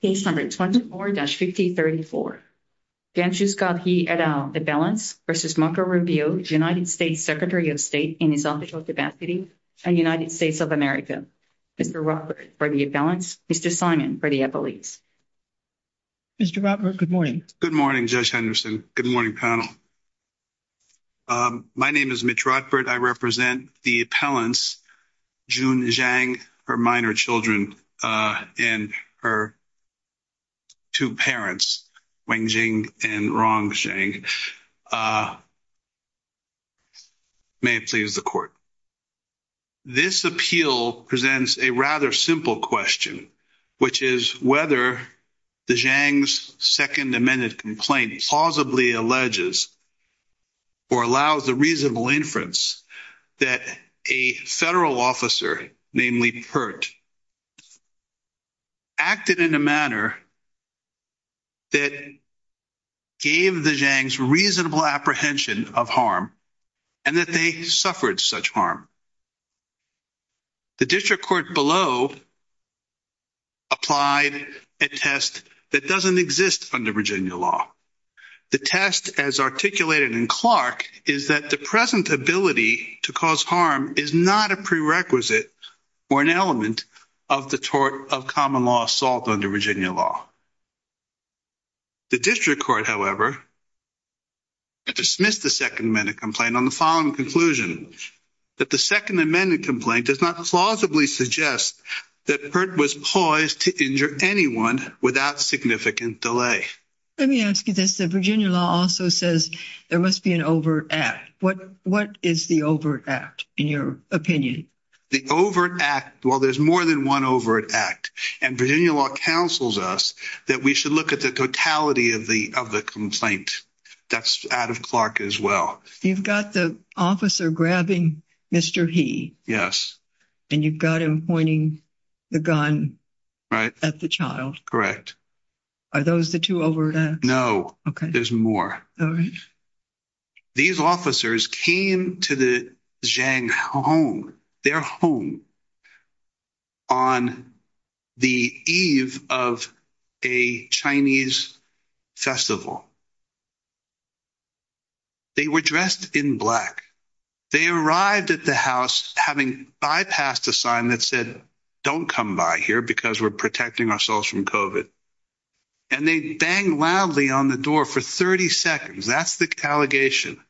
case number 24-5034. Gengshu Scott He et al. The Appellants v. Marco Rubio, United States Secretary of State in his Office of Diplomacy and United States of America. Mr. Rodburt for the Appellants, Mr. Simon for the Appellates. Mr. Rodburt, good morning. Good morning, Judge Henderson. Good morning, panel. My name is Mitch Rodburt. I represent the Appellants, Jun Zhang, her minor children and her two parents, Wang Jing and Rong Zhang. May it please the Court. This appeal presents a rather simple question, which is whether the Zhang's second amended complaint plausibly alleges or allows the reasonable inference that a federal officer, namely Pert, acted in a manner that gave the Zhang's reasonable apprehension of harm and that they suffered such harm. The District Court below applied a test that doesn't exist under Virginia law. The test as articulated in Clark is that the present ability to cause harm is not a prerequisite or an element of the tort of common law assault under Virginia law. The District Court, however, dismissed the second amended complaint on the following conclusion, that the second amended complaint does not plausibly suggest that Pert was poised to injure anyone without significant delay. Let me ask you this. The opinion. The overt act. Well, there's more than one overt act and Virginia law counsels us that we should look at the totality of the complaint. That's out of Clark as well. You've got the officer grabbing Mr. He. Yes. And you've got him pointing the gun at the child. Correct. Are those the two overt acts? No. Okay. There's more. All right. These officers came to the Zhang home, their home, on the eve of a Chinese festival. They were dressed in black. They arrived at the house having bypassed a sign that said, don't come by here because we're protecting ourselves from COVID. And they banged loudly on the door for 30 seconds. That's the allegation.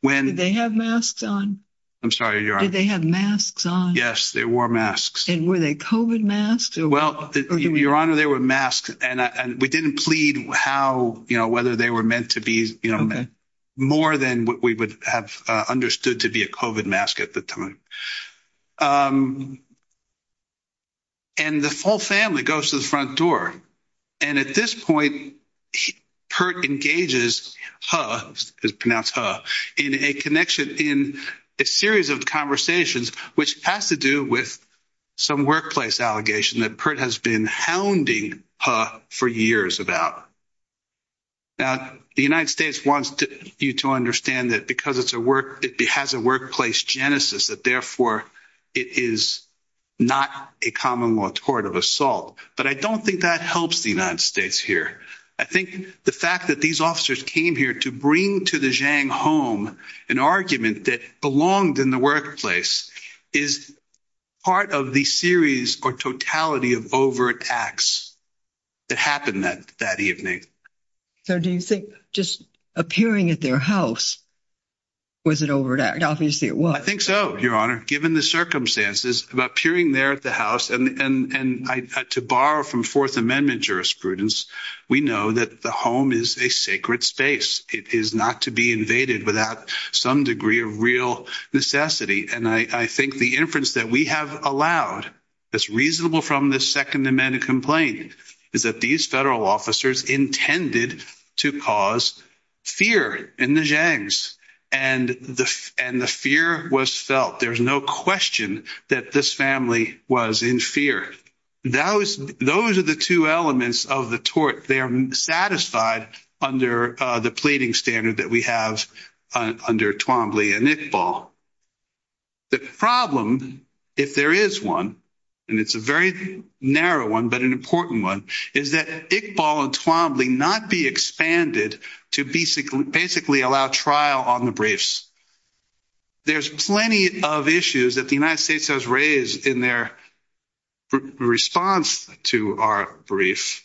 When they have masks on. I'm sorry. Did they have masks on? Yes, they wore masks. And were they COVID masks? Well, your honor, they were masks. And we didn't plead how, you know, whether they were meant to be, you know, more than what we would have understood to be a COVID mask at the time. And the full family goes to the front door. And at this point, Pert engages, is pronounced her, in a connection in a series of conversations, which has to do with some workplace allegation that Pert has been hounding her for years about. Now, the United States wants you to understand that because it's a work, it has a workplace genesis that therefore, it is not a common law court of assault. But I don't think that helps the United States here. I think the fact that these officers came here to bring to the Zhang home, an argument that belonged in the workplace is part of the series or totality of overt acts that happened that that evening. So do you think just appearing at their house? Was it over that obviously it was, I think so, your honor, given the circumstances about peering there at the house, and I to borrow from Fourth Amendment jurisprudence, we know that the home is a sacred space, it is not to be invaded without some degree of real necessity. And I think the inference that we have allowed, that's reasonable from the Second Amendment complaint, is that these federal officers intended to cause fear in the Zhangs. And the fear was felt, there's no question that this family was in fear. Those are the two elements of the tort, they are satisfied under the pleading standard that we have under Twombly and Iqbal. The problem, if there is one, and it's a very narrow one, but an important one, is that Iqbal and Twombly not be expanded to basically allow trial on the briefs. There's plenty of issues that the United States has raised in their response to our briefs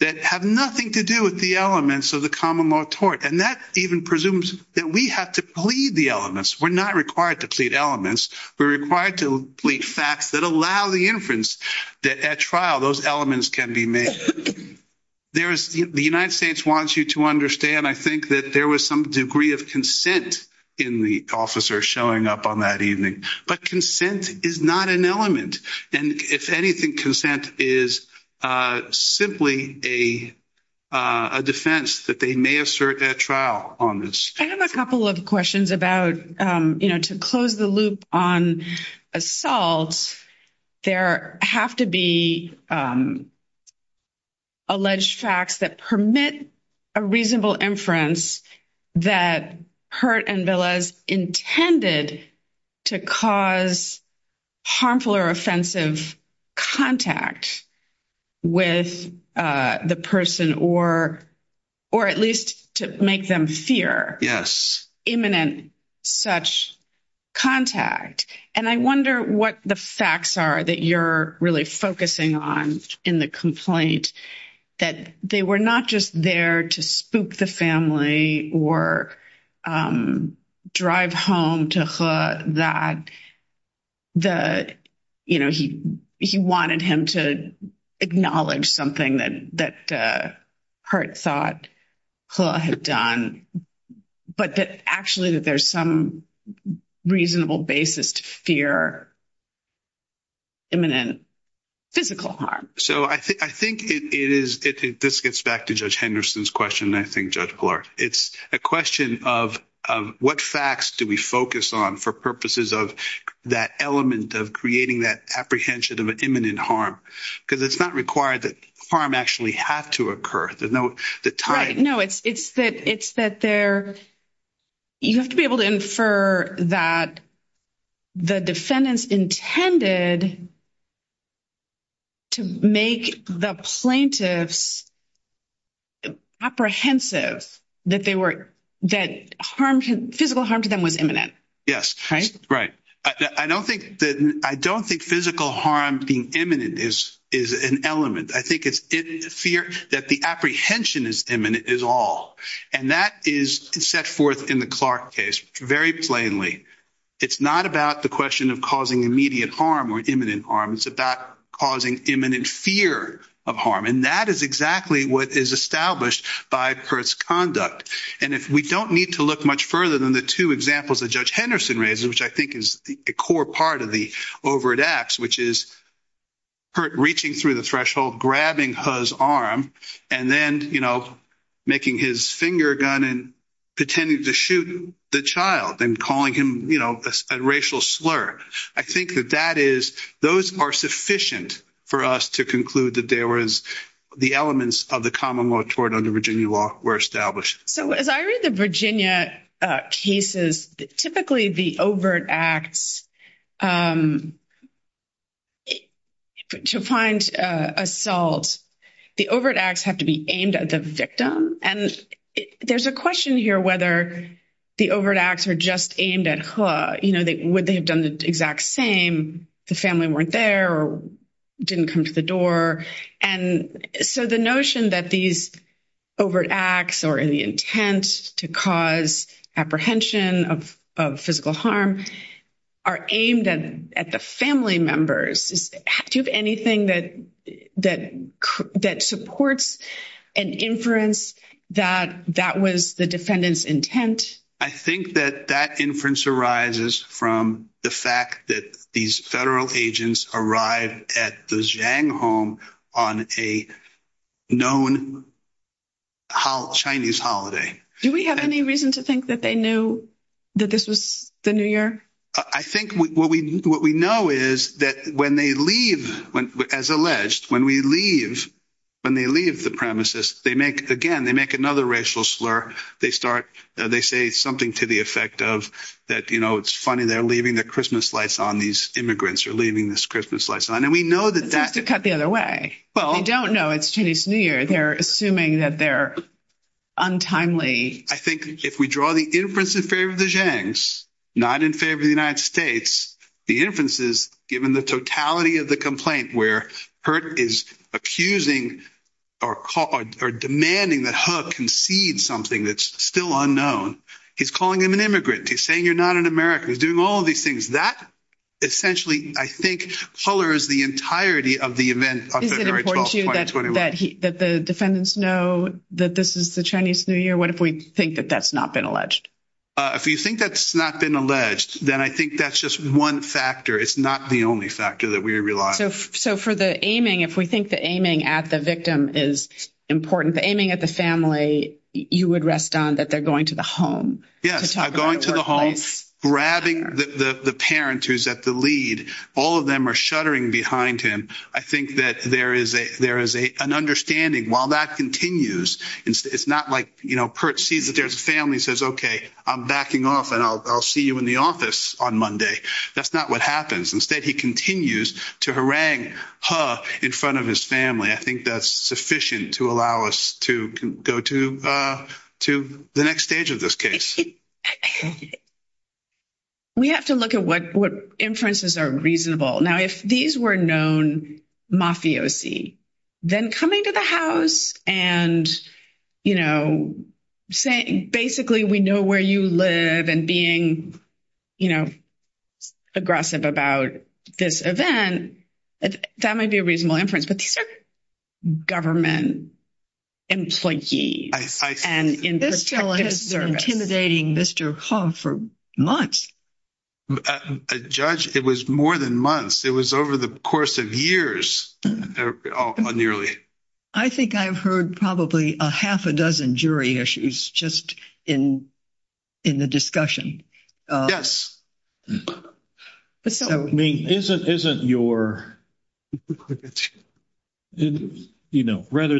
that have nothing to do with the elements of the common law tort. And that even presumes that we have to plead the elements, we're not required to plead elements, we're required to plead facts that allow the inference that at trial those elements can be made. The United States wants you to understand, I think, that there was some degree of consent in the officer showing up on that evening, but consent is not an element. And if anything, consent is simply a defense that they may assert at trial on this. I have a couple of questions about, you know, to close the loop on assault, there have to be alleged facts that permit a reasonable inference that Hurt and Velez intended to cause harmful or offensive contact with the person, or at least to make them fear imminent such contact. And I wonder what the facts are that you're really focusing on in the complaint, that they were not just there to spook the family or drive home to Hurt that, you know, he wanted him to acknowledge something that Hurt thought Hurt had done, but that actually that there's some reasonable basis to fear imminent physical harm. So I think it is, this gets back to Judge Henderson's question, I think, Judge Pillar. It's a question of what facts do we focus on for purposes of that element of creating that apprehension of an imminent harm? Because it's not required that harm actually have to occur. No, it's that you have to be able to infer that the defendants intended to make the plaintiffs apprehensive that physical harm to them was imminent. Yes, right. I don't think physical harm being imminent is an element. I think it's fear that the apprehension is imminent is all. And that is set forth in the Clark case very plainly. It's not about the question of causing immediate harm or imminent harm. It's about causing imminent fear of harm. And that is exactly what is established by Hurt's conduct. And if we don't need to look much further than the two examples that Judge Henderson raises, which I think is a core part of the overt acts, which is Hurt reaching through the threshold, grabbing Hurt's arm, and then, you know, making his finger gun and pretending to shoot the child and calling him, you know, a racial slur. I think that that is, those are sufficient for us to conclude that there was the elements of the common law toward under Virginia law were established. So, as I read the Virginia cases, typically the overt acts, to find assault, the overt acts have to be aimed at the victim. And there's a question here whether the overt acts are just aimed at Hurt. You know, would they have done the exact same? The family weren't there or didn't come to the door. And so, the notion that these overt acts are in the intent to cause apprehension of physical harm are aimed at the family members. Do you have anything that supports an inference that that was the defendant's intent? I think that that inference arises from the fact that these federal agents arrived at the Zhang home on a known Chinese holiday. Do we have any reason to think that they knew that this was the New Year? I think what we know is that when they leave, as alleged, when we leave, when they leave the premises, they make, again, they make another racial slur. They start, they say something to the effect of that, you know, it's funny they're leaving the Christmas lights on, these immigrants are leaving this Christmas lights on. And we know that that... It seems to cut the other way. They don't know it's Chinese New Year. They're assuming that they're untimely. I think if we draw the inference in favor of the Zhangs, not in favor of the United States, the inferences, given the totality of the complaint where Hurt is accusing or demanding that Hurt concedes something that's still unknown. He's calling him an immigrant. He's saying you're not an American. He's doing all of these things. That essentially, I think, colors the entirety of the event on February 12, 2021. Is it important to you that the defendants know that this is the Chinese New Year? What if we think that that's not been alleged? If you think that's not been alleged, then I think that's just one factor. It's not the only factor that we realize. So for the aiming, if we think the aiming at the victim is important, the aiming at the family, you would rest on that going to the home. Yes, going to the home, grabbing the parent who's at the lead. All of them are shuddering behind him. I think that there is an understanding while that continues. It's not like, you know, Hurt sees that there's a family, says, okay, I'm backing off and I'll see you in the office on Monday. That's not what happens. Instead, he continues to harangue in front of his family. I think that's sufficient to allow us to go to the next stage of this case. We have to look at what inferences are reasonable. Now, if these were known mafiosi, then coming to the house and saying, basically, we know where you live and being you know, aggressive about this event, that might be a reasonable inference. But these are government employees. And this is intimidating Mr. Hall for months. A judge, it was more than months. It was over the course of years, nearly. I think I've heard probably a half a dozen jury issues just in the discussion. Rather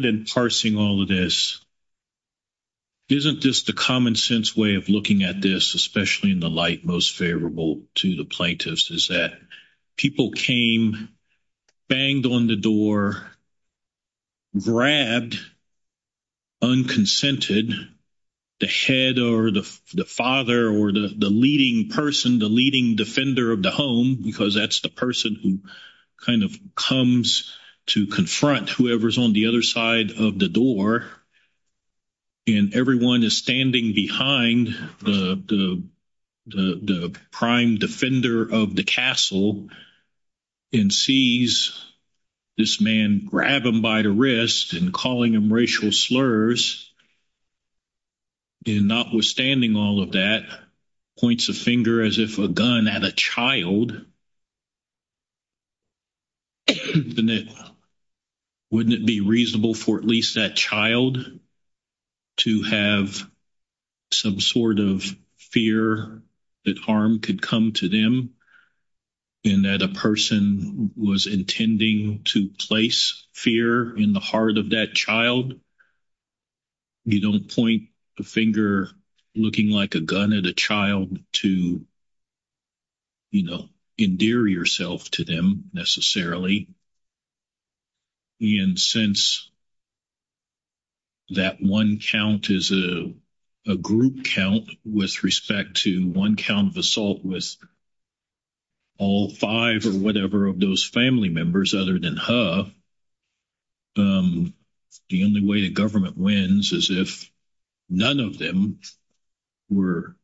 than parsing all of this, isn't this the common sense way of looking at this, especially in the light most favorable to the plaintiffs, is that people came, banged on the door, grabbed, unconsented, the head or the father or the leading person, the leading defender of the home, because that's the person who kind of comes to confront whoever's on the other side of the door. And everyone is standing behind the prime defender of the castle and sees this man grab him by the wrist and calling him racial slurs. And notwithstanding all of that, points a finger as if a gun had a child. Wouldn't it be reasonable for at least that child to have some sort of fear that harm could come to them, and that a person was intending to place fear in the heart of that child? You don't point a finger looking like a gun at a child to, you know, endear yourself to them all five or whatever of those family members other than her. The only way the government wins is if none of them were,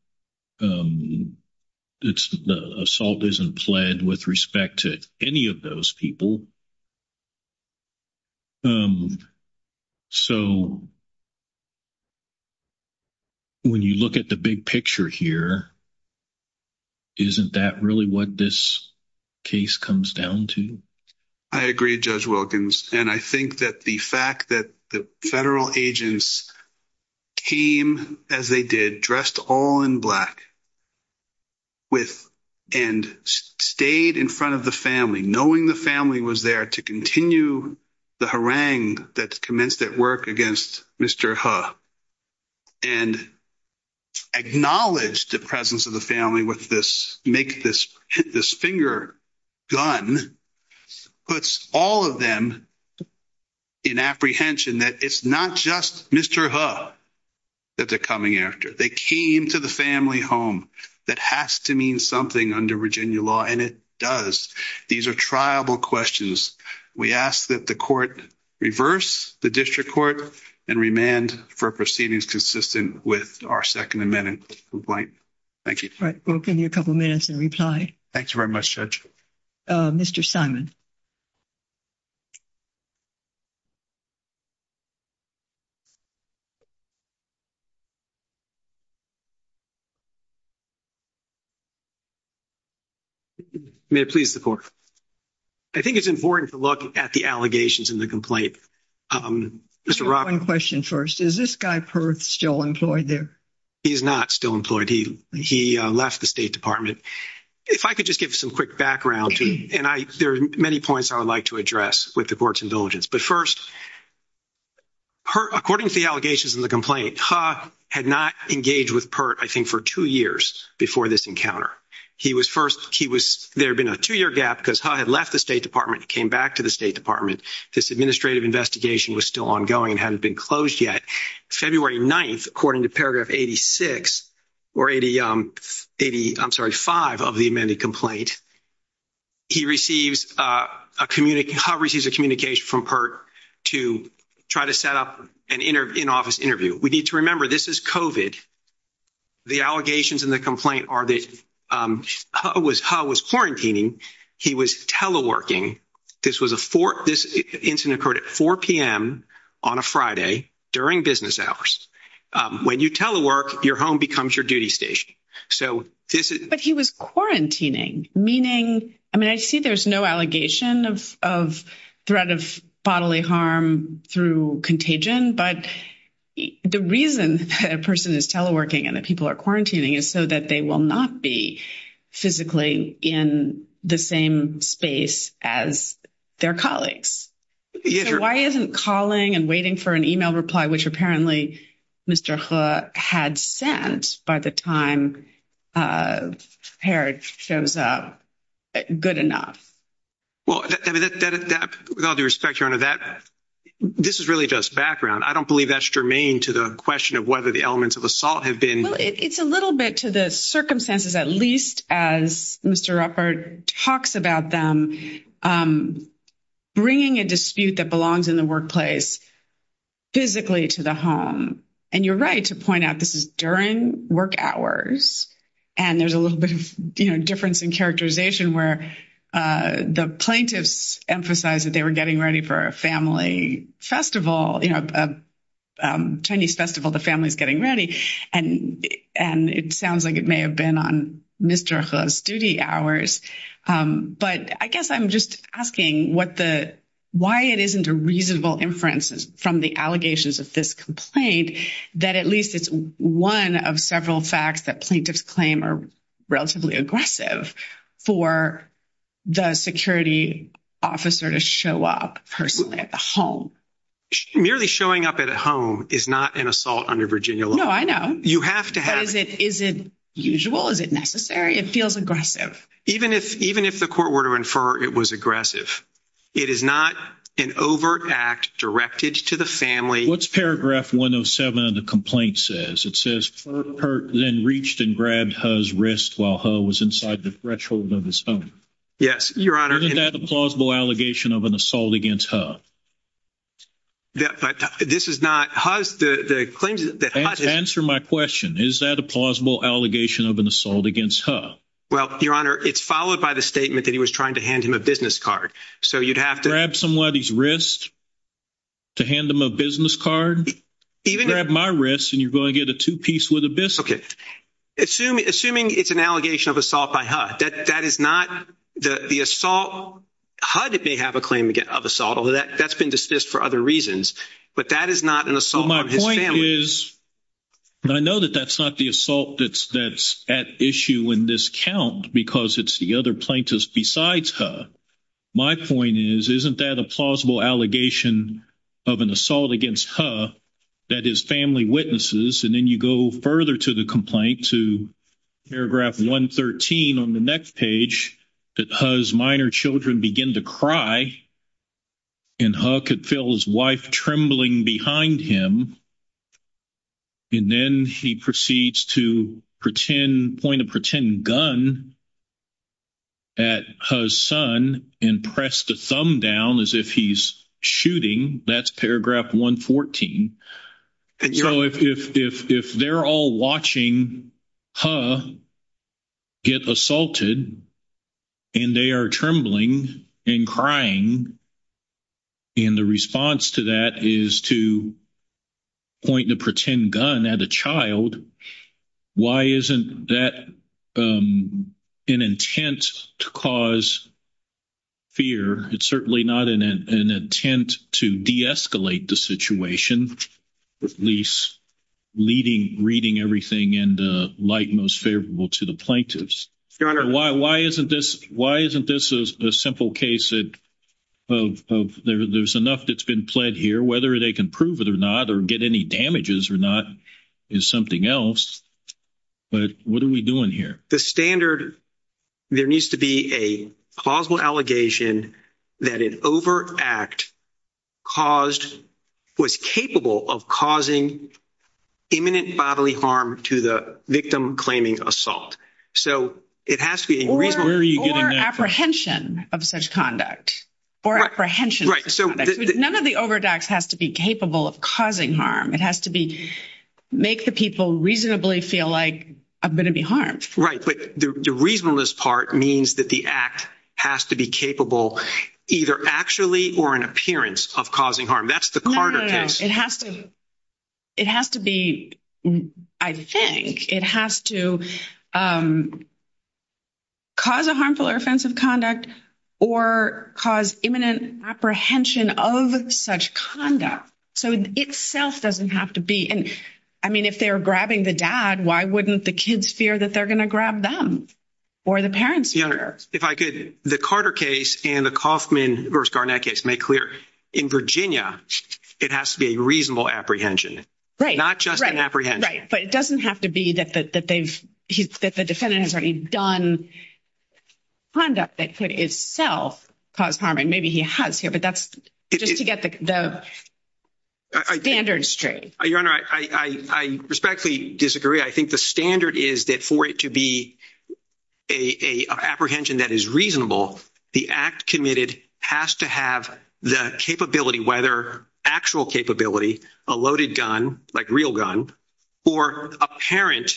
it's the assault isn't pled with respect to any of those people. So, when you look at the big picture here, isn't that really what this case comes down to? I agree, Judge Wilkins. And I think that the fact that the federal agents came as they did, dressed all in black, and stayed in front of the family, knowing the family was there, to continue the harangue that commenced at work against Mr. Hu, and acknowledge the presence of the family with this finger gun, puts all of them in apprehension that it's not just Mr. Hu that they're coming after. They came to the family We ask that the court reverse the district court and remand for proceedings consistent with our second amendment complaint. Thank you. All right, we'll give you a couple minutes and reply. Thank you very much, Judge. Mr. Simon. May it please the court. I think it's important to look at the allegations in the complaint. Mr. Rock. One question first. Is this guy, Perth, still employed there? He's not still employed. He left the State Department. If I could just give some quick background, and there are many points I would like to address with the court's indulgence. But first, according to the allegations in the complaint, Hu had not engaged with Perth, I think, for two years before this encounter. There had been a two-year gap because Hu had left the State Department and came back to the State Department. This administrative investigation was still ongoing and hadn't been closed yet. February 9th, according to paragraph 86, or 85 of the amended complaint, Hu receives a communication from Perth to try to set up an in-office interview. We need to remember this is COVID. The allegations in the complaint are that Hu was quarantining. He was teleworking. This incident occurred at 4 p.m. on a Friday during business hours. When you telework, your home becomes your duty station. But he was quarantining. I see there's no allegation of threat of bodily harm through contagion, but the reason that a person is teleworking and that people are quarantining is so that they will not be physically in the same space as their colleagues. Why isn't calling and waiting for an email reply, which apparently Mr. Hu had sent by the time Perth shows up, good enough? Well, with all due respect, Your Honor, this is really just background. I don't believe that's germane to the question of whether the elements of assault have been... Well, it's a little bit to the circumstances, at least as Mr. Ruppert talks about them, bringing a dispute that belongs in the workplace physically to the home. And you're right to point out this is during work hours. And there's a little bit of difference in characterization where the plaintiffs emphasize that they were getting ready for a family festival, a Chinese festival, the family's getting ready. And it sounds like it may have been on Mr. Hu's duty hours. But I guess I'm just asking why it isn't a reasonable inference from the allegations of this complaint that at least it's one of several facts that plaintiffs claim are relatively aggressive for the security officer to show up personally at the home. Merely showing up at home is not an assault under Virginia law. No, I know. You have to have it. Is it usual? Is it necessary? It feels aggressive. Even if the court were to infer it was aggressive, it is not an overt act directed to the family. What's Paragraph 107 of the complaint says? It says, Ruppert then reached and grabbed Hu's wrist while Hu was inside the threshold of his home. Yes, Your Honor. Isn't that a plausible allegation of an assault against Hu? This is not. Hu's, the claims that- Answer my question. Is that a plausible allegation of an assault against Hu? Well, Your Honor, it's followed by the statement that he was trying to hand him a business card. So you'd have to- Even- Grab my wrist and you're going to get a two-piece with a biscuit. Okay. Assuming it's an allegation of assault by Hu, that is not the assault. Hu may have a claim of assault, although that's been dismissed for other reasons. But that is not an assault on his family. Well, my point is, and I know that that's not the assault that's at issue in this count, because it's the other plaintiffs besides Hu. My point is, isn't that a plausible allegation of an assault against Hu that his family witnesses? And then you go further to the complaint, to paragraph 113 on the next page, that Hu's minor children begin to cry and Hu could feel his wife trembling behind him. And then he proceeds to point a pretend gun at Hu's son and press the thumb down as if he's shooting. That's paragraph 114. And Your Honor- So if they're all watching Hu get assaulted and they are trembling and crying, and the response to that is to point the pretend gun at a child, why isn't that an intent to cause fear? It's certainly not an intent to de-escalate the situation, at least reading everything in the light most favorable to the plaintiffs. Your Honor- Why isn't this a simple case of there's enough that's been pled here, whether they can prove it or not, or get any damages or not, is something else. But what are we doing here? The standard, there needs to be a plausible allegation that an overact was capable of causing imminent bodily harm to the victim claiming assault. So it has to be a reasonable- Or apprehension of such conduct. None of the overacts has to be capable of causing harm. It has to make the people reasonably feel like I'm going to be harmed. Right. But the reasonableness part means that the act has to be capable either actually or an appearance of causing harm. That's the Carter case. No, no, no. It has to be, I think, it has to cause a harmful or offensive conduct or cause imminent apprehension of such conduct. So itself doesn't have to be. And I mean, if they're grabbing the dad, why wouldn't the kids fear that they're going to grab them or the parents? Your Honor, if I could, the Carter case and the Kaufman v. Garnett case make clear. In Virginia, it has to be a reasonable apprehension, not just an apprehension. But it doesn't have to be that the defendant has already done conduct that could itself cause harm. And maybe he has here, but that's just to get the standards straight. Your Honor, I respectfully disagree. I think the standard is that for it to be an apprehension that is reasonable, the act committed has to have the capability, whether actual capability, a loaded gun, like real gun, or apparent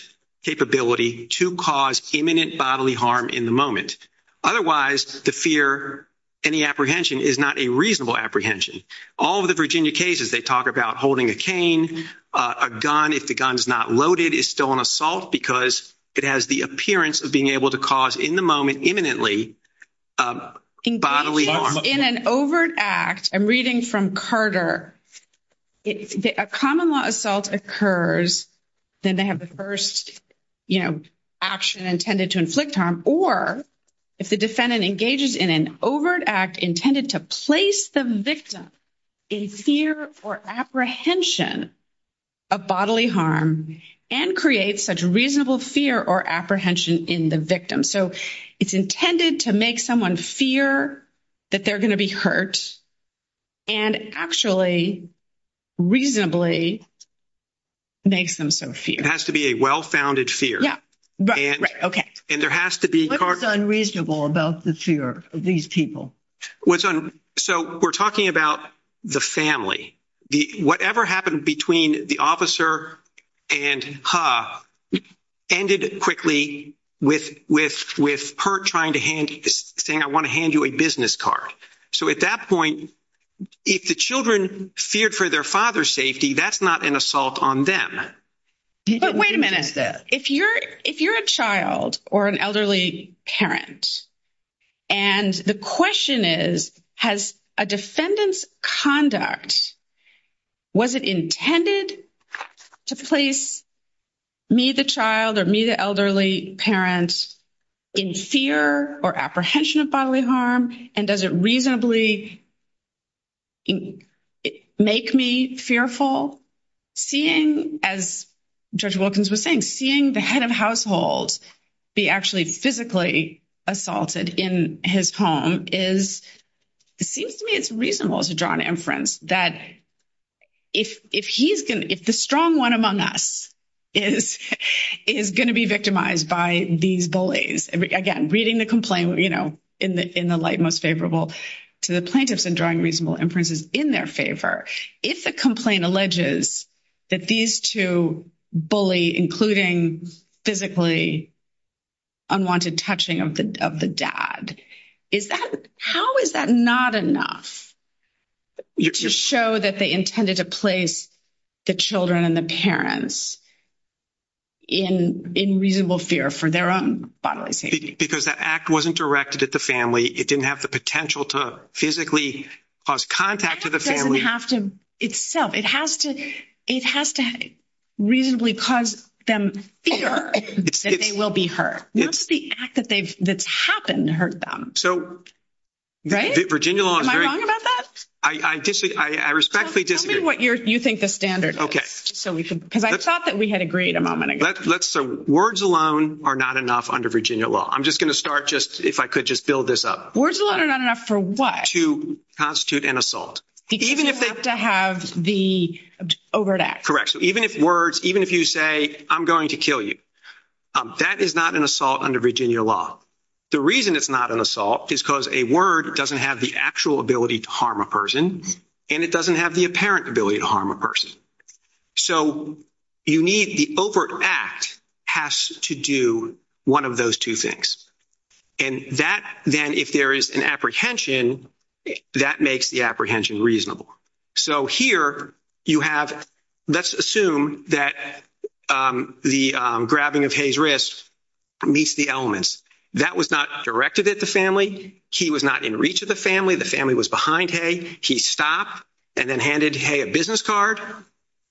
capability to cause imminent bodily harm in the moment. Otherwise, the fear, any apprehension is not a reasonable apprehension. All of the Virginia cases, they talk about holding a cane. A gun, if the gun is not loaded, is still an assault because it has the appearance of being able to cause in the moment imminently bodily harm. In an overt act, I'm reading from Carter, a common law assault occurs, then they have the first, you know, action intended to inflict harm, or if the defendant engages in an overt act intended to place the victim in fear or apprehension of bodily harm and create such reasonable fear or apprehension in the victim. It's intended to make someone fear that they're going to be hurt and actually reasonably makes them so fear. It has to be a well-founded fear. Yeah, right, right, okay. And there has to be... What is unreasonable about the fear of these people? We're talking about the family. Whatever happened between the officer and her ended quickly with her saying, I want to hand you a business card. So at that point, if the children feared for their father's safety, that's not an assault on them. But wait a minute, if you're a child or an elderly parent, and the question is, has a defendant's conduct, was it intended to place me, the child, or me, the elderly parent, in fear or apprehension of bodily harm? And does it reasonably make me fearful seeing, as Judge Wilkins was saying, seeing the head of household be actually physically assaulted in his home? It seems to me it's reasonable to draw an inference that if the strong one among us is going to be victimized by these bullies, again, reading the complaint in the light most favorable to the plaintiffs and drawing reasonable inferences in their favor, if the complaint including physically unwanted touching of the dad, how is that not enough to show that they intended to place the children and the parents in reasonable fear for their own bodily safety? Because that act wasn't directed at the family. It didn't have the potential to physically cause contact to the family. It doesn't have to itself. It has to reasonably cause them fear that they will be hurt. Not just the act that's happened to hurt them. So Virginia law is very- Am I wrong about that? I respectfully disagree. Tell me what you think the standard is, because I thought that we had agreed a moment ago. Let's say words alone are not enough under Virginia law. I'm just going to start just, if I could just build this up. Words alone are not enough for what? To constitute an assault. Because you have to have the overt act. Correct. So even if words, even if you say, I'm going to kill you, that is not an assault under Virginia law. The reason it's not an assault is because a word doesn't have the actual ability to harm a person, and it doesn't have the apparent ability to harm a person. So you need the overt act has to do one of those two things. And that then, if there is an apprehension, that makes the apprehension reasonable. So here you have, let's assume that the grabbing of Hay's wrist meets the elements. That was not directed at the family. He was not in reach of the family. The family was behind Hay. He stopped and then handed Hay a business card.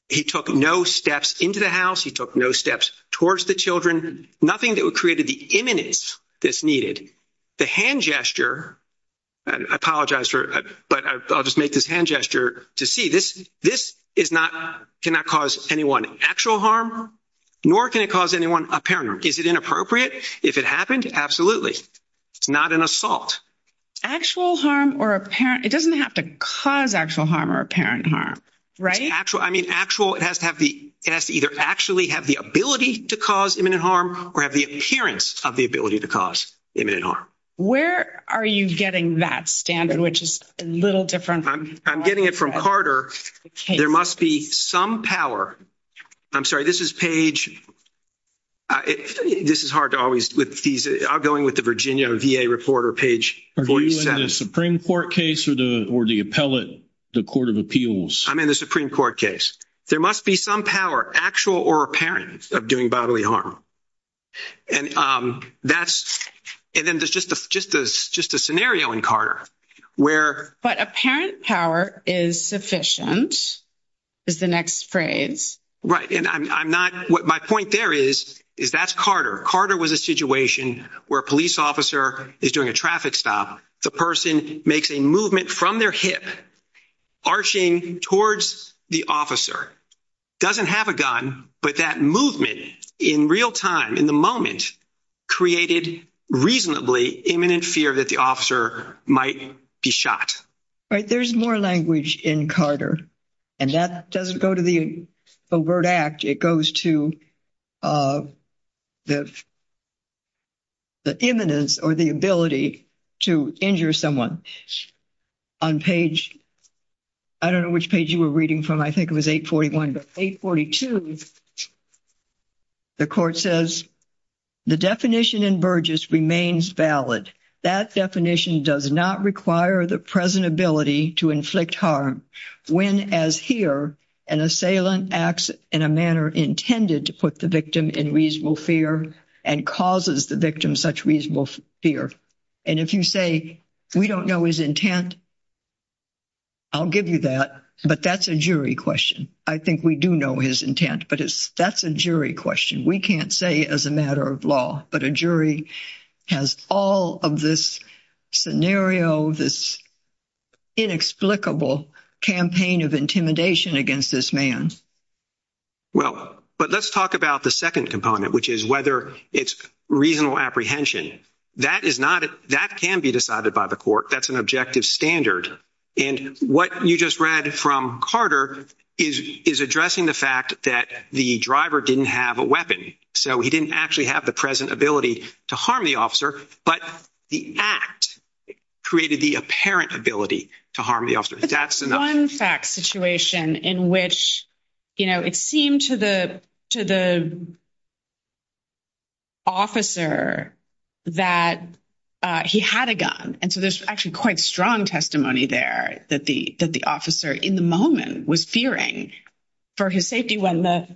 He took no steps into the house. He took no steps towards the children. Nothing that would create the imminence that's needed. The hand gesture, I apologize, but I'll just make this hand gesture to see this. This is not, cannot cause anyone actual harm, nor can it cause anyone apparent harm. Is it inappropriate if it happened? Absolutely. It's not an assault. Actual harm or apparent. It doesn't have to cause actual harm or apparent harm, right? I mean, actual, it has to have the, it has to either actually have the ability to cause imminent harm or have the appearance of the ability to cause imminent harm. Where are you getting that standard, which is a little different? I'm getting it from Carter. There must be some power. I'm sorry, this is page. This is hard to always with these, I'm going with the Virginia VA report or page 47. Are you in the Supreme Court case or the appellate, the court of appeals? I'm in the Supreme Court case. There must be some power actual or apparent of doing bodily harm. And that's, and then there's just a, just a, just a scenario in Carter where. But apparent power is sufficient is the next phrase. Right. And I'm not, what my point there is, is that's Carter. Carter was a situation where a police officer is doing a traffic stop. The person makes a movement from their hip. Arching towards the officer doesn't have a gun, but that movement in real time in the moment. Created reasonably imminent fear that the officer might be shot. Right. There's more language in Carter and that doesn't go to the word act. It goes to the imminence or the ability to injure someone on page. I don't know which page you were reading from. I think it was 841, 842. The court says the definition in Burgess remains valid. That definition does not require the present ability to inflict harm. When, as here, an assailant acts in a manner intended to put the victim in reasonable fear and causes the victim such reasonable fear. And if you say we don't know his intent. I'll give you that, but that's a jury question. I think we do know his intent, but it's that's a jury question. We can't say as a matter of law, but a jury has all of this scenario. This inexplicable campaign of intimidation against this man. Well, but let's talk about the second component, which is whether it's reasonable apprehension. That is not that can be decided by the court. That's an objective standard. And what you just read from Carter is addressing the fact that the driver didn't have a weapon. So he didn't actually have the present ability to harm the officer. But the act created the apparent ability to harm the officer. That's one fact situation in which, you know, it seemed to the to the. Officer that he had a gun. And so there's actually quite strong testimony there that the that the officer in the moment was fearing for his safety when the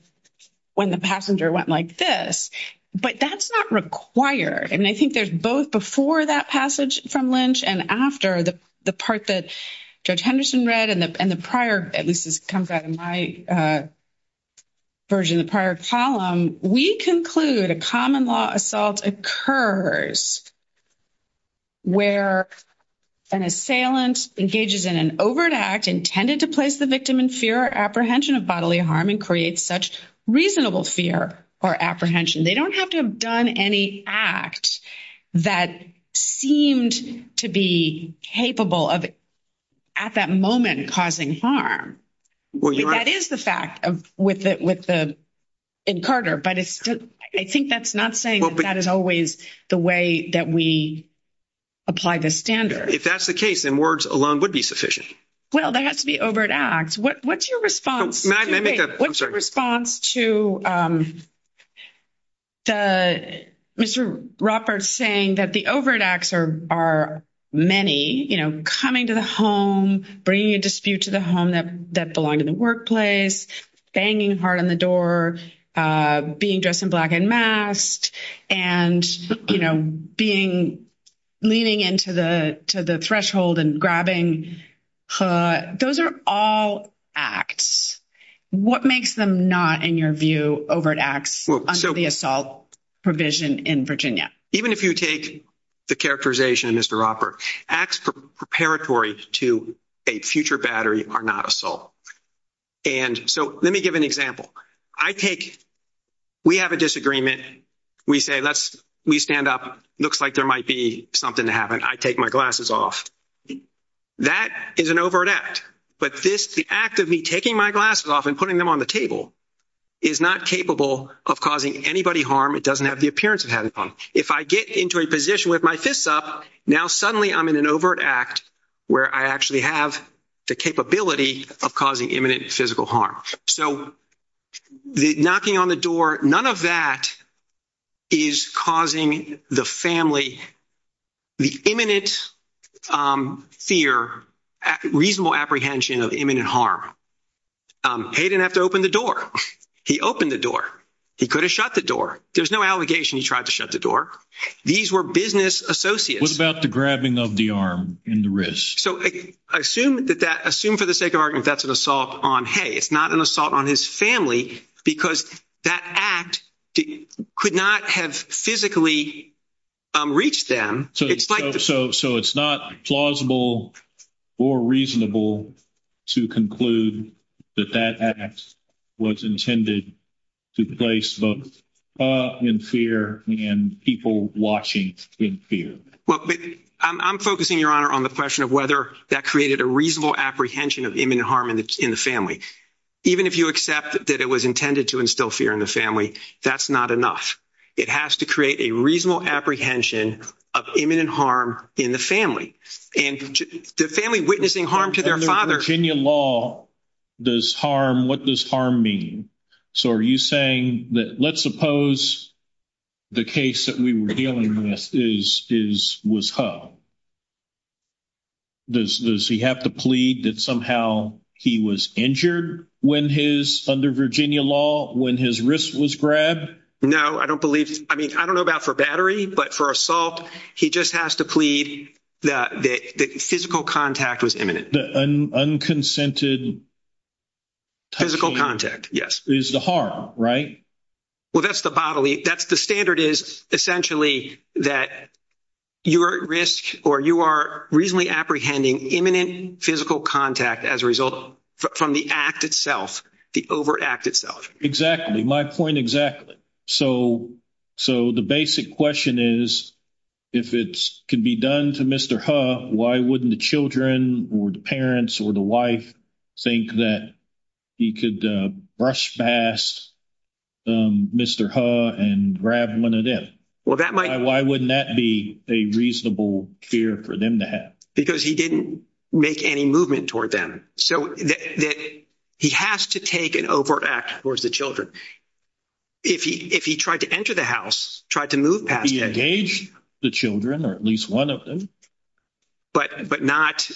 when the passenger went like this, but that's not required. And I think there's both before that passage from Lynch and after the part that Judge Henderson read and the prior, at least this comes out in my version, the prior column, we conclude a common law assault occurs. Where an assailant engages in an overt act intended to place the victim in fear or apprehension of bodily harm and create such reasonable fear or apprehension, they don't have to have any act that seemed to be capable of at that moment causing harm. That is the fact of with it, with the in Carter. But I think that's not saying that is always the way that we apply the standard. If that's the case, then words alone would be sufficient. Well, there has to be overt acts. What's your response? What's your response to the Mr. Roberts saying that the overt acts are many, you know, coming to the home, bringing a dispute to the home that that belonged in the workplace, banging hard on the door, being dressed in black and masked and, you know, being leaning into the to the threshold and grabbing. But those are all acts. What makes them not, in your view, overt acts under the assault provision in Virginia? Even if you take the characterization, Mr. Roper, acts preparatory to a future battery are not assault. And so let me give an example. I take we have a disagreement. We say, let's we stand up. Looks like there might be something to happen. I take my glasses off. That is an overt act. But this the act of me taking my glasses off and putting them on the table is not capable of causing anybody harm. It doesn't have the appearance of having fun. If I get into a position with my fists up now, suddenly I'm in an overt act where I actually have the capability of causing imminent physical harm. So the knocking on the door, none of that is causing the family the imminent fear, reasonable apprehension of imminent harm. Hayden have to open the door. He opened the door. He could have shut the door. There's no allegation he tried to shut the door. These were business associates. What about the grabbing of the arm in the wrist? So I assume that that assume for the sake of argument, that's an assault on, hey, it's not an assault on his family because that act could not have physically reached them. So it's not plausible or reasonable to conclude that that act was intended to place both in fear and people watching in fear. Well, I'm focusing your honor on the question of whether that created a reasonable apprehension of imminent harm in the family. Even if you accept that it was intended to instill fear in the family, that's not enough. It has to create a reasonable apprehension of imminent harm in the family and the family witnessing harm to their father. Virginia law does harm. What does harm mean? So are you saying that let's suppose the case that we were dealing with was Hu. Does he have to plead that somehow he was injured when his, under Virginia law, when his wrist was grabbed? No, I don't believe. I mean, I don't know about for battery, but for assault, he just has to plead that physical contact was imminent. Unconsented. Physical contact. Is the harm, right? Well, that's the bodily, that's the standard is essentially that you are at risk or you are reasonably apprehending imminent physical contact as a result from the act itself, the overact itself. Exactly. My point exactly. So the basic question is, if it can be done to Mr. Hu, why wouldn't the children or the pass? Mr. Hu and grab one of them? Well, that might, why wouldn't that be a reasonable fear for them to have? Because he didn't make any movement toward them. So that he has to take an overt act towards the children. If he, if he tried to enter the house, tried to move past the children, or at least one of them, but, but not,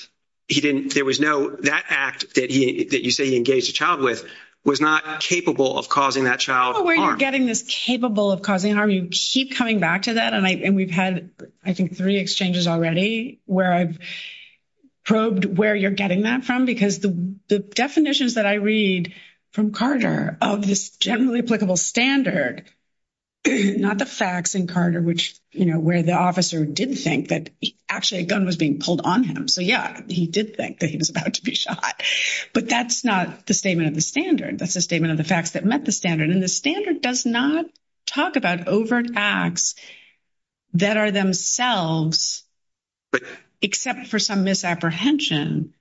he didn't, there was no, that act that he, that you say he engaged a child with was not capable of causing that child getting this capable of causing harm. You keep coming back to that. And I, and we've had, I think three exchanges already where I've probed where you're getting that from, because the definitions that I read from Carter of this generally applicable standard, not the facts in Carter, which, you know, where the officer didn't think that actually a gun was being pulled on him. So yeah, he did think that he was about to be shot, but that's not the statement of the standard. That's a statement of the facts that met the standard. And the standard does not talk about overt acts that are themselves, but except for some misapprehension.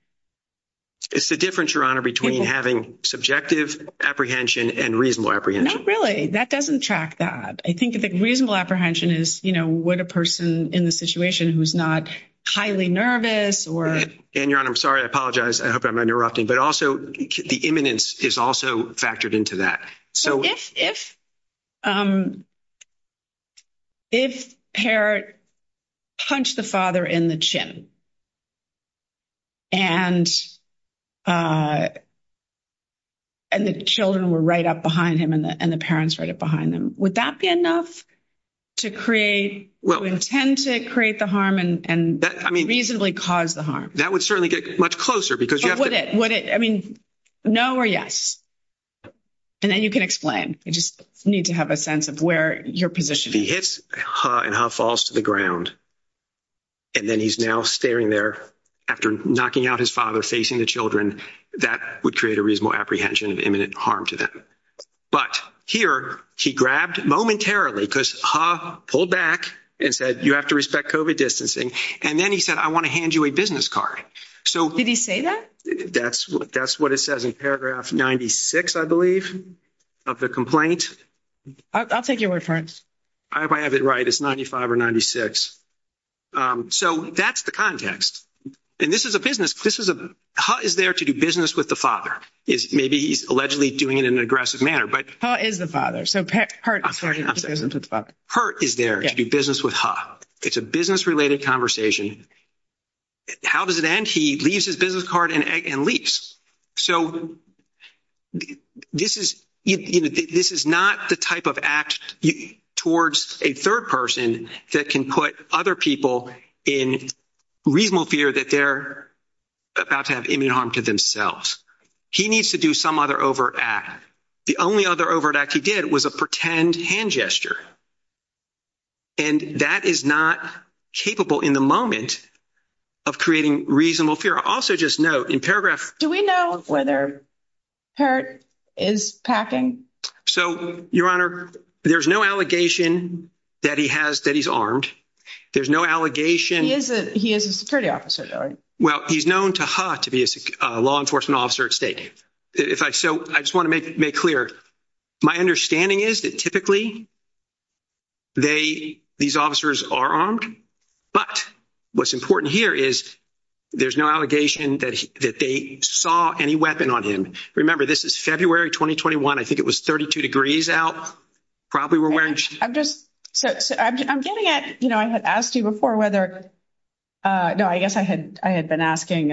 It's the difference your honor between having subjective apprehension and reasonable apprehension. Not really. That doesn't track that. I think that reasonable apprehension is, you know, what a person in the situation who's not highly nervous or, and your honor, I'm sorry. I apologize. I hope I'm interrupting, but also the imminence is also factored into that. So if, if, um, if hair punch the father in the chin and, uh, and the children were right up behind him and the, and the parents right up behind them, would that be enough to create well, intend to create the harm and reasonably cause the harm that would certainly get much closer because you have, would it, would it, I mean, no or yes. And then you can explain, you just need to have a sense of where your position and how falls to the ground. And then he's now staring there after knocking out his father, facing the children that would create a reasonable apprehension of imminent harm to them. But here he grabbed momentarily because ha pulled back and said, you have to respect COVID distancing. And then he said, I want to hand you a business card. So did he say that? That's what, that's what it says in paragraph 96, I believe of the complaint. I'll take your word for it. I have it right. It's 95 or 96. So that's the context. And this is a business. This is a, how is there to do business with the father is maybe he's allegedly doing it aggressive manner, but is the father. So hurt is there to do business with ha. It's a business related conversation. How does it end? He leaves his business card and leaves. So this is, you know, this is not the type of act towards a third person that can put other people in reasonable fear that they're about to have imminent harm to themselves. He needs to do some other over at the only other over that he did was a pretend hand gesture. And that is not capable in the moment of creating reasonable fear. I also just know in paragraph, do we know whether hurt is packing? So your honor, there's no allegation that he has that he's armed. There's no allegation. He is a, he is a security officer. Well, he's known to her to be a law enforcement officer at state. If I, so I just want to make, make clear. My understanding is that typically they, these officers are armed, but what's important here is there's no allegation that, that they saw any weapon on him. Remember, this is February, 2021. I think it was 32 degrees out. Probably we're wearing. I'm just, I'm getting it. I had asked you before whether, no, I guess I had, I had been asking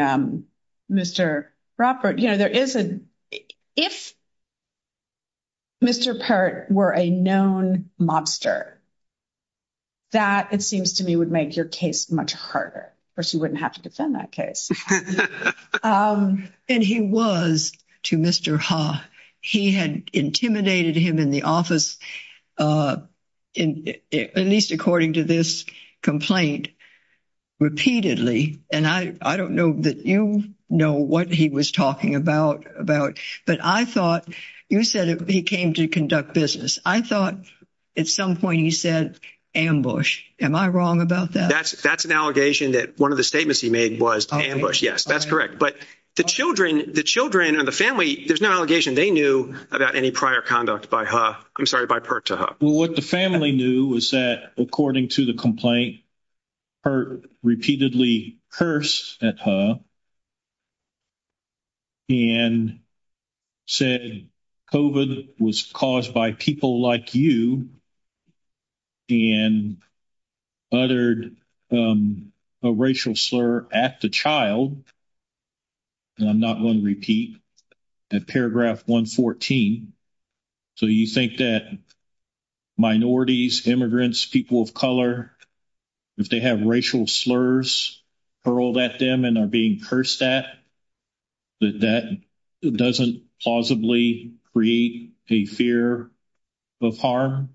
Mr. Robert, you know, there is a, if. Mr. Part were a known mobster. That it seems to me would make your case much harder or she wouldn't have to defend that case. And he was to Mr. Ha, he had intimidated him in the office. Uh, in, at least according to this complaint. Repeatedly. And I, I don't know that you know what he was talking about, about, but I thought you said he came to conduct business. I thought at some point he said ambush. Am I wrong about that? That's, that's an allegation that one of the statements he made was ambush. Yes, that's correct. But the children, the children and the family, there's no allegation. They knew about any prior conduct by her. I'm sorry, by her to her. What the family knew was that according to the complaint. Her repeatedly curse at her. And said COVID was caused by people like you. And other racial slur at the child. And I'm not going to repeat that paragraph 114. So, you think that minorities, immigrants, people of color. If they have racial slurs hurled at them and are being cursed at. But that doesn't plausibly create a fear of harm.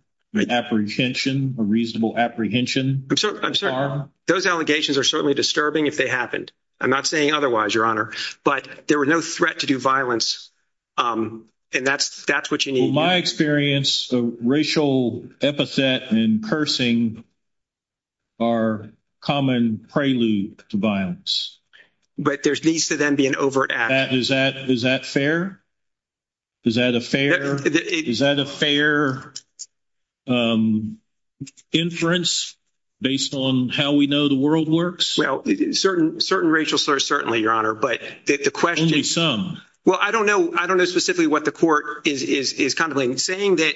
Apprehension, a reasonable apprehension. So, I'm sorry, those allegations are certainly disturbing if they happened. I'm not saying otherwise, Your Honor. But there were no threat to do violence. And that's, that's what you need. My experience, racial epithet and cursing are common prelude to violence. But there's needs to then be an overt act. Is that, is that fair? Is that a fair, is that a fair inference based on how we know the world works? Well, certain, certain racial slurs, certainly, Your Honor. But the question. Well, I don't know, I don't know specifically what the court is contemplating. Saying that,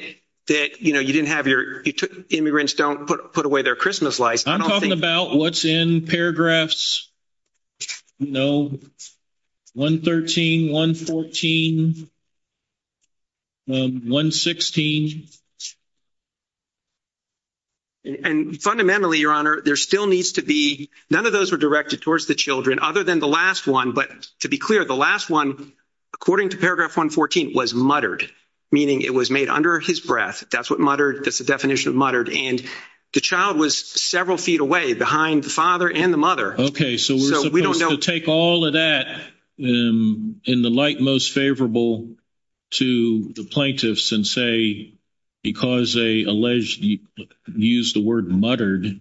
that, you know, you didn't have your, you took, immigrants don't put, put away their Christmas lights. I'm talking about what's in paragraphs, you know, 113, 114, 116. And fundamentally, Your Honor, there still needs to be, none of those were directed towards the children other than the last one. But to be clear, the last one, according to paragraph 114, was muttered. Meaning it was made under his breath. That's what muttered, that's the definition of muttered. And the child was several feet away behind the father and the mother. Okay, so we're supposed to take all of that in the light most favorable to the plaintiffs and say, because they alleged, used the word muttered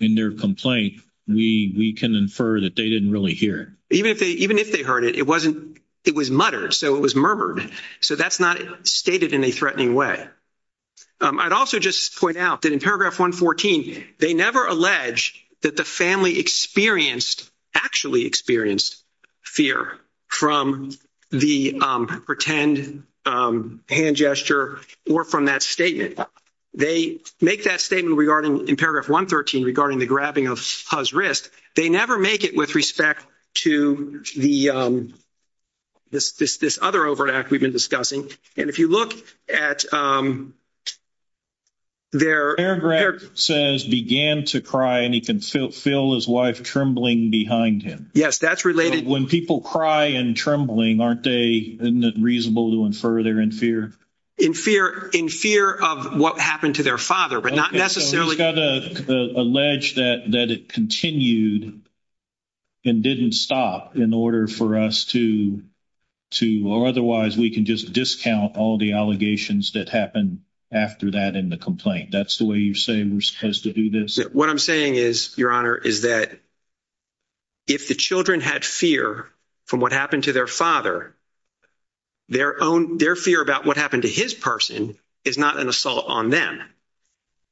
in their complaint, we can infer that they didn't really hear it. Even if they, even if they heard it, it wasn't, it was muttered. So it was murmured. So that's not stated in a threatening way. I'd also just point out that in paragraph 114, they never allege that the family experienced, actually experienced fear from the pretend hand gesture or from that statement. They make that statement regarding, in paragraph 113, regarding the grabbing of his wrist. They never make it with respect to the, this other overreact we've been discussing. And if you look at their- Yes, that's related. When people cry and trembling, aren't they, isn't it reasonable to infer they're in fear? In fear, in fear of what happened to their father, but not necessarily- He's got to allege that it continued and didn't stop in order for us to, or otherwise we can just discount all the allegations that happen after that in the complaint. That's the way you're saying we're supposed to do this. What I'm saying is, Your Honor, is that if the children had fear from what happened to their father, their fear about what happened to his person is not an assault on them.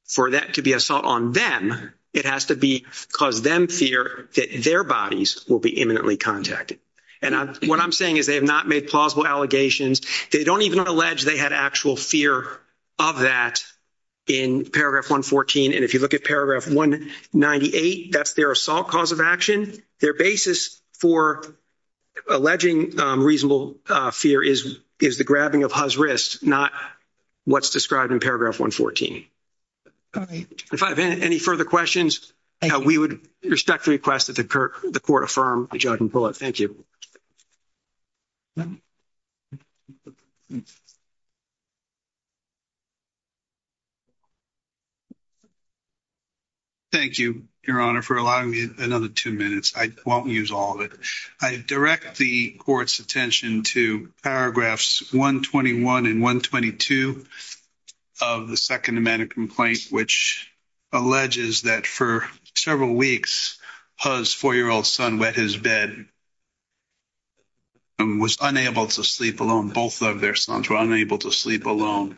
For that to be assault on them, it has to be because them fear that their bodies will be imminently contacted. And what I'm saying is they have not made plausible allegations. They don't even allege they had actual fear of that in paragraph 114. And if you look at paragraph 198, that's their assault cause of action. Their basis for alleging reasonable fear is the grabbing of his wrist, not what's described in paragraph 114. If I have any further questions, we would respectfully request that the court affirm Judge Bullitt. Thank you. Thank you, Your Honor, for allowing me another two minutes. I won't use all of it. I direct the court's attention to paragraphs 121 and 122 of the second amendment complaint, which alleges that for several weeks, his four-year-old son wet his bed and was unable to sleep alone. Both of their sons were unable to sleep alone.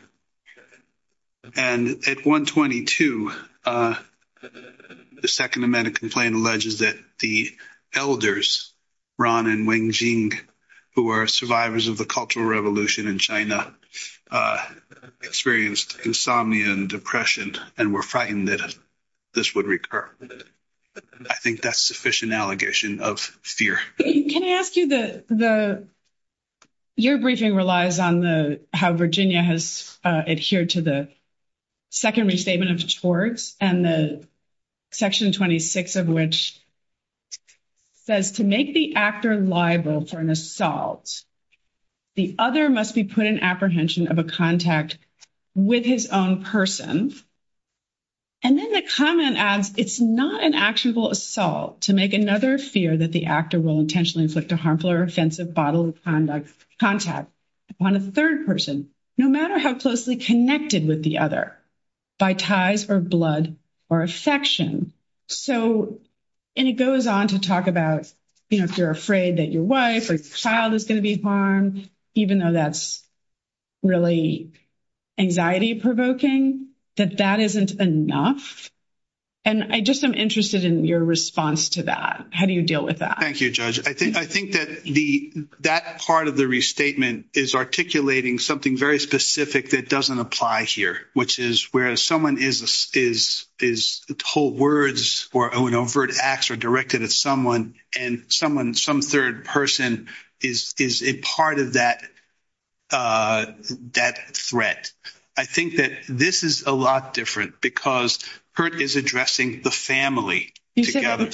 And at 122, the second amendment complaint alleges that the elders, Ron and Wenjing, who were survivors of the Cultural Revolution in China, experienced insomnia and depression and were frightened that this would recur. I think that's sufficient allegation of fear. Can I ask you, your briefing relies on how Virginia has adhered to the second restatement of the courts and section 26 of which says, to make the actor liable for an assault, the other must be put in apprehension of a contact with his own person. And then the comment adds, it's not an actionable assault to make another fear that the actor will intentionally inflict a harmful or offensive bodily contact upon a third person, no matter how closely connected with the other by ties or blood or affection. So, and it goes on to talk about, you know, if you're afraid that your wife or child is going to be harmed, even though that's really anxiety-provoking, that that isn't enough. And I just am interested in your response to that. How do you deal with that? Thank you, Judge. I think that part of the restatement is articulating something very specific that doesn't apply here, which is where someone is told words or overt acts are directed at someone and someone, some third person is a part of that threat. I think that this is a lot different because Hurt is addressing the family together.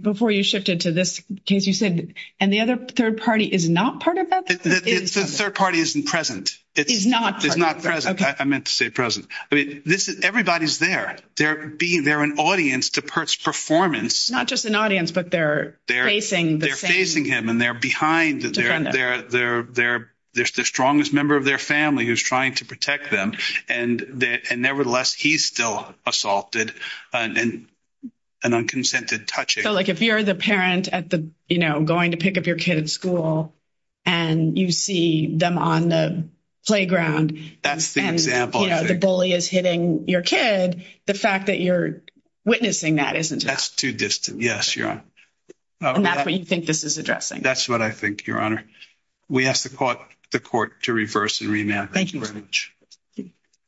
Before you shifted to this case, you said, and the other third party is not part of that? The third party isn't present. It's not. It's not present. I meant to say present. I mean, everybody's there. They're being there, an audience to Hurt's performance. Not just an audience, but they're facing the same. They're facing him and they're behind. They're the strongest member of their family who's trying to protect them. And nevertheless, he's still assaulted and an unconsented touching. So, like, if you're the parent at the, you know, going to pick up your kid at school and you see them on the playground. That's the example. The bully is hitting your kid. The fact that you're witnessing that isn't. That's too distant. Yes, Your Honor. And that's what you think this is addressing. That's what I think, Your Honor. We asked the court to reverse and remand. Thank you very much. Thank you.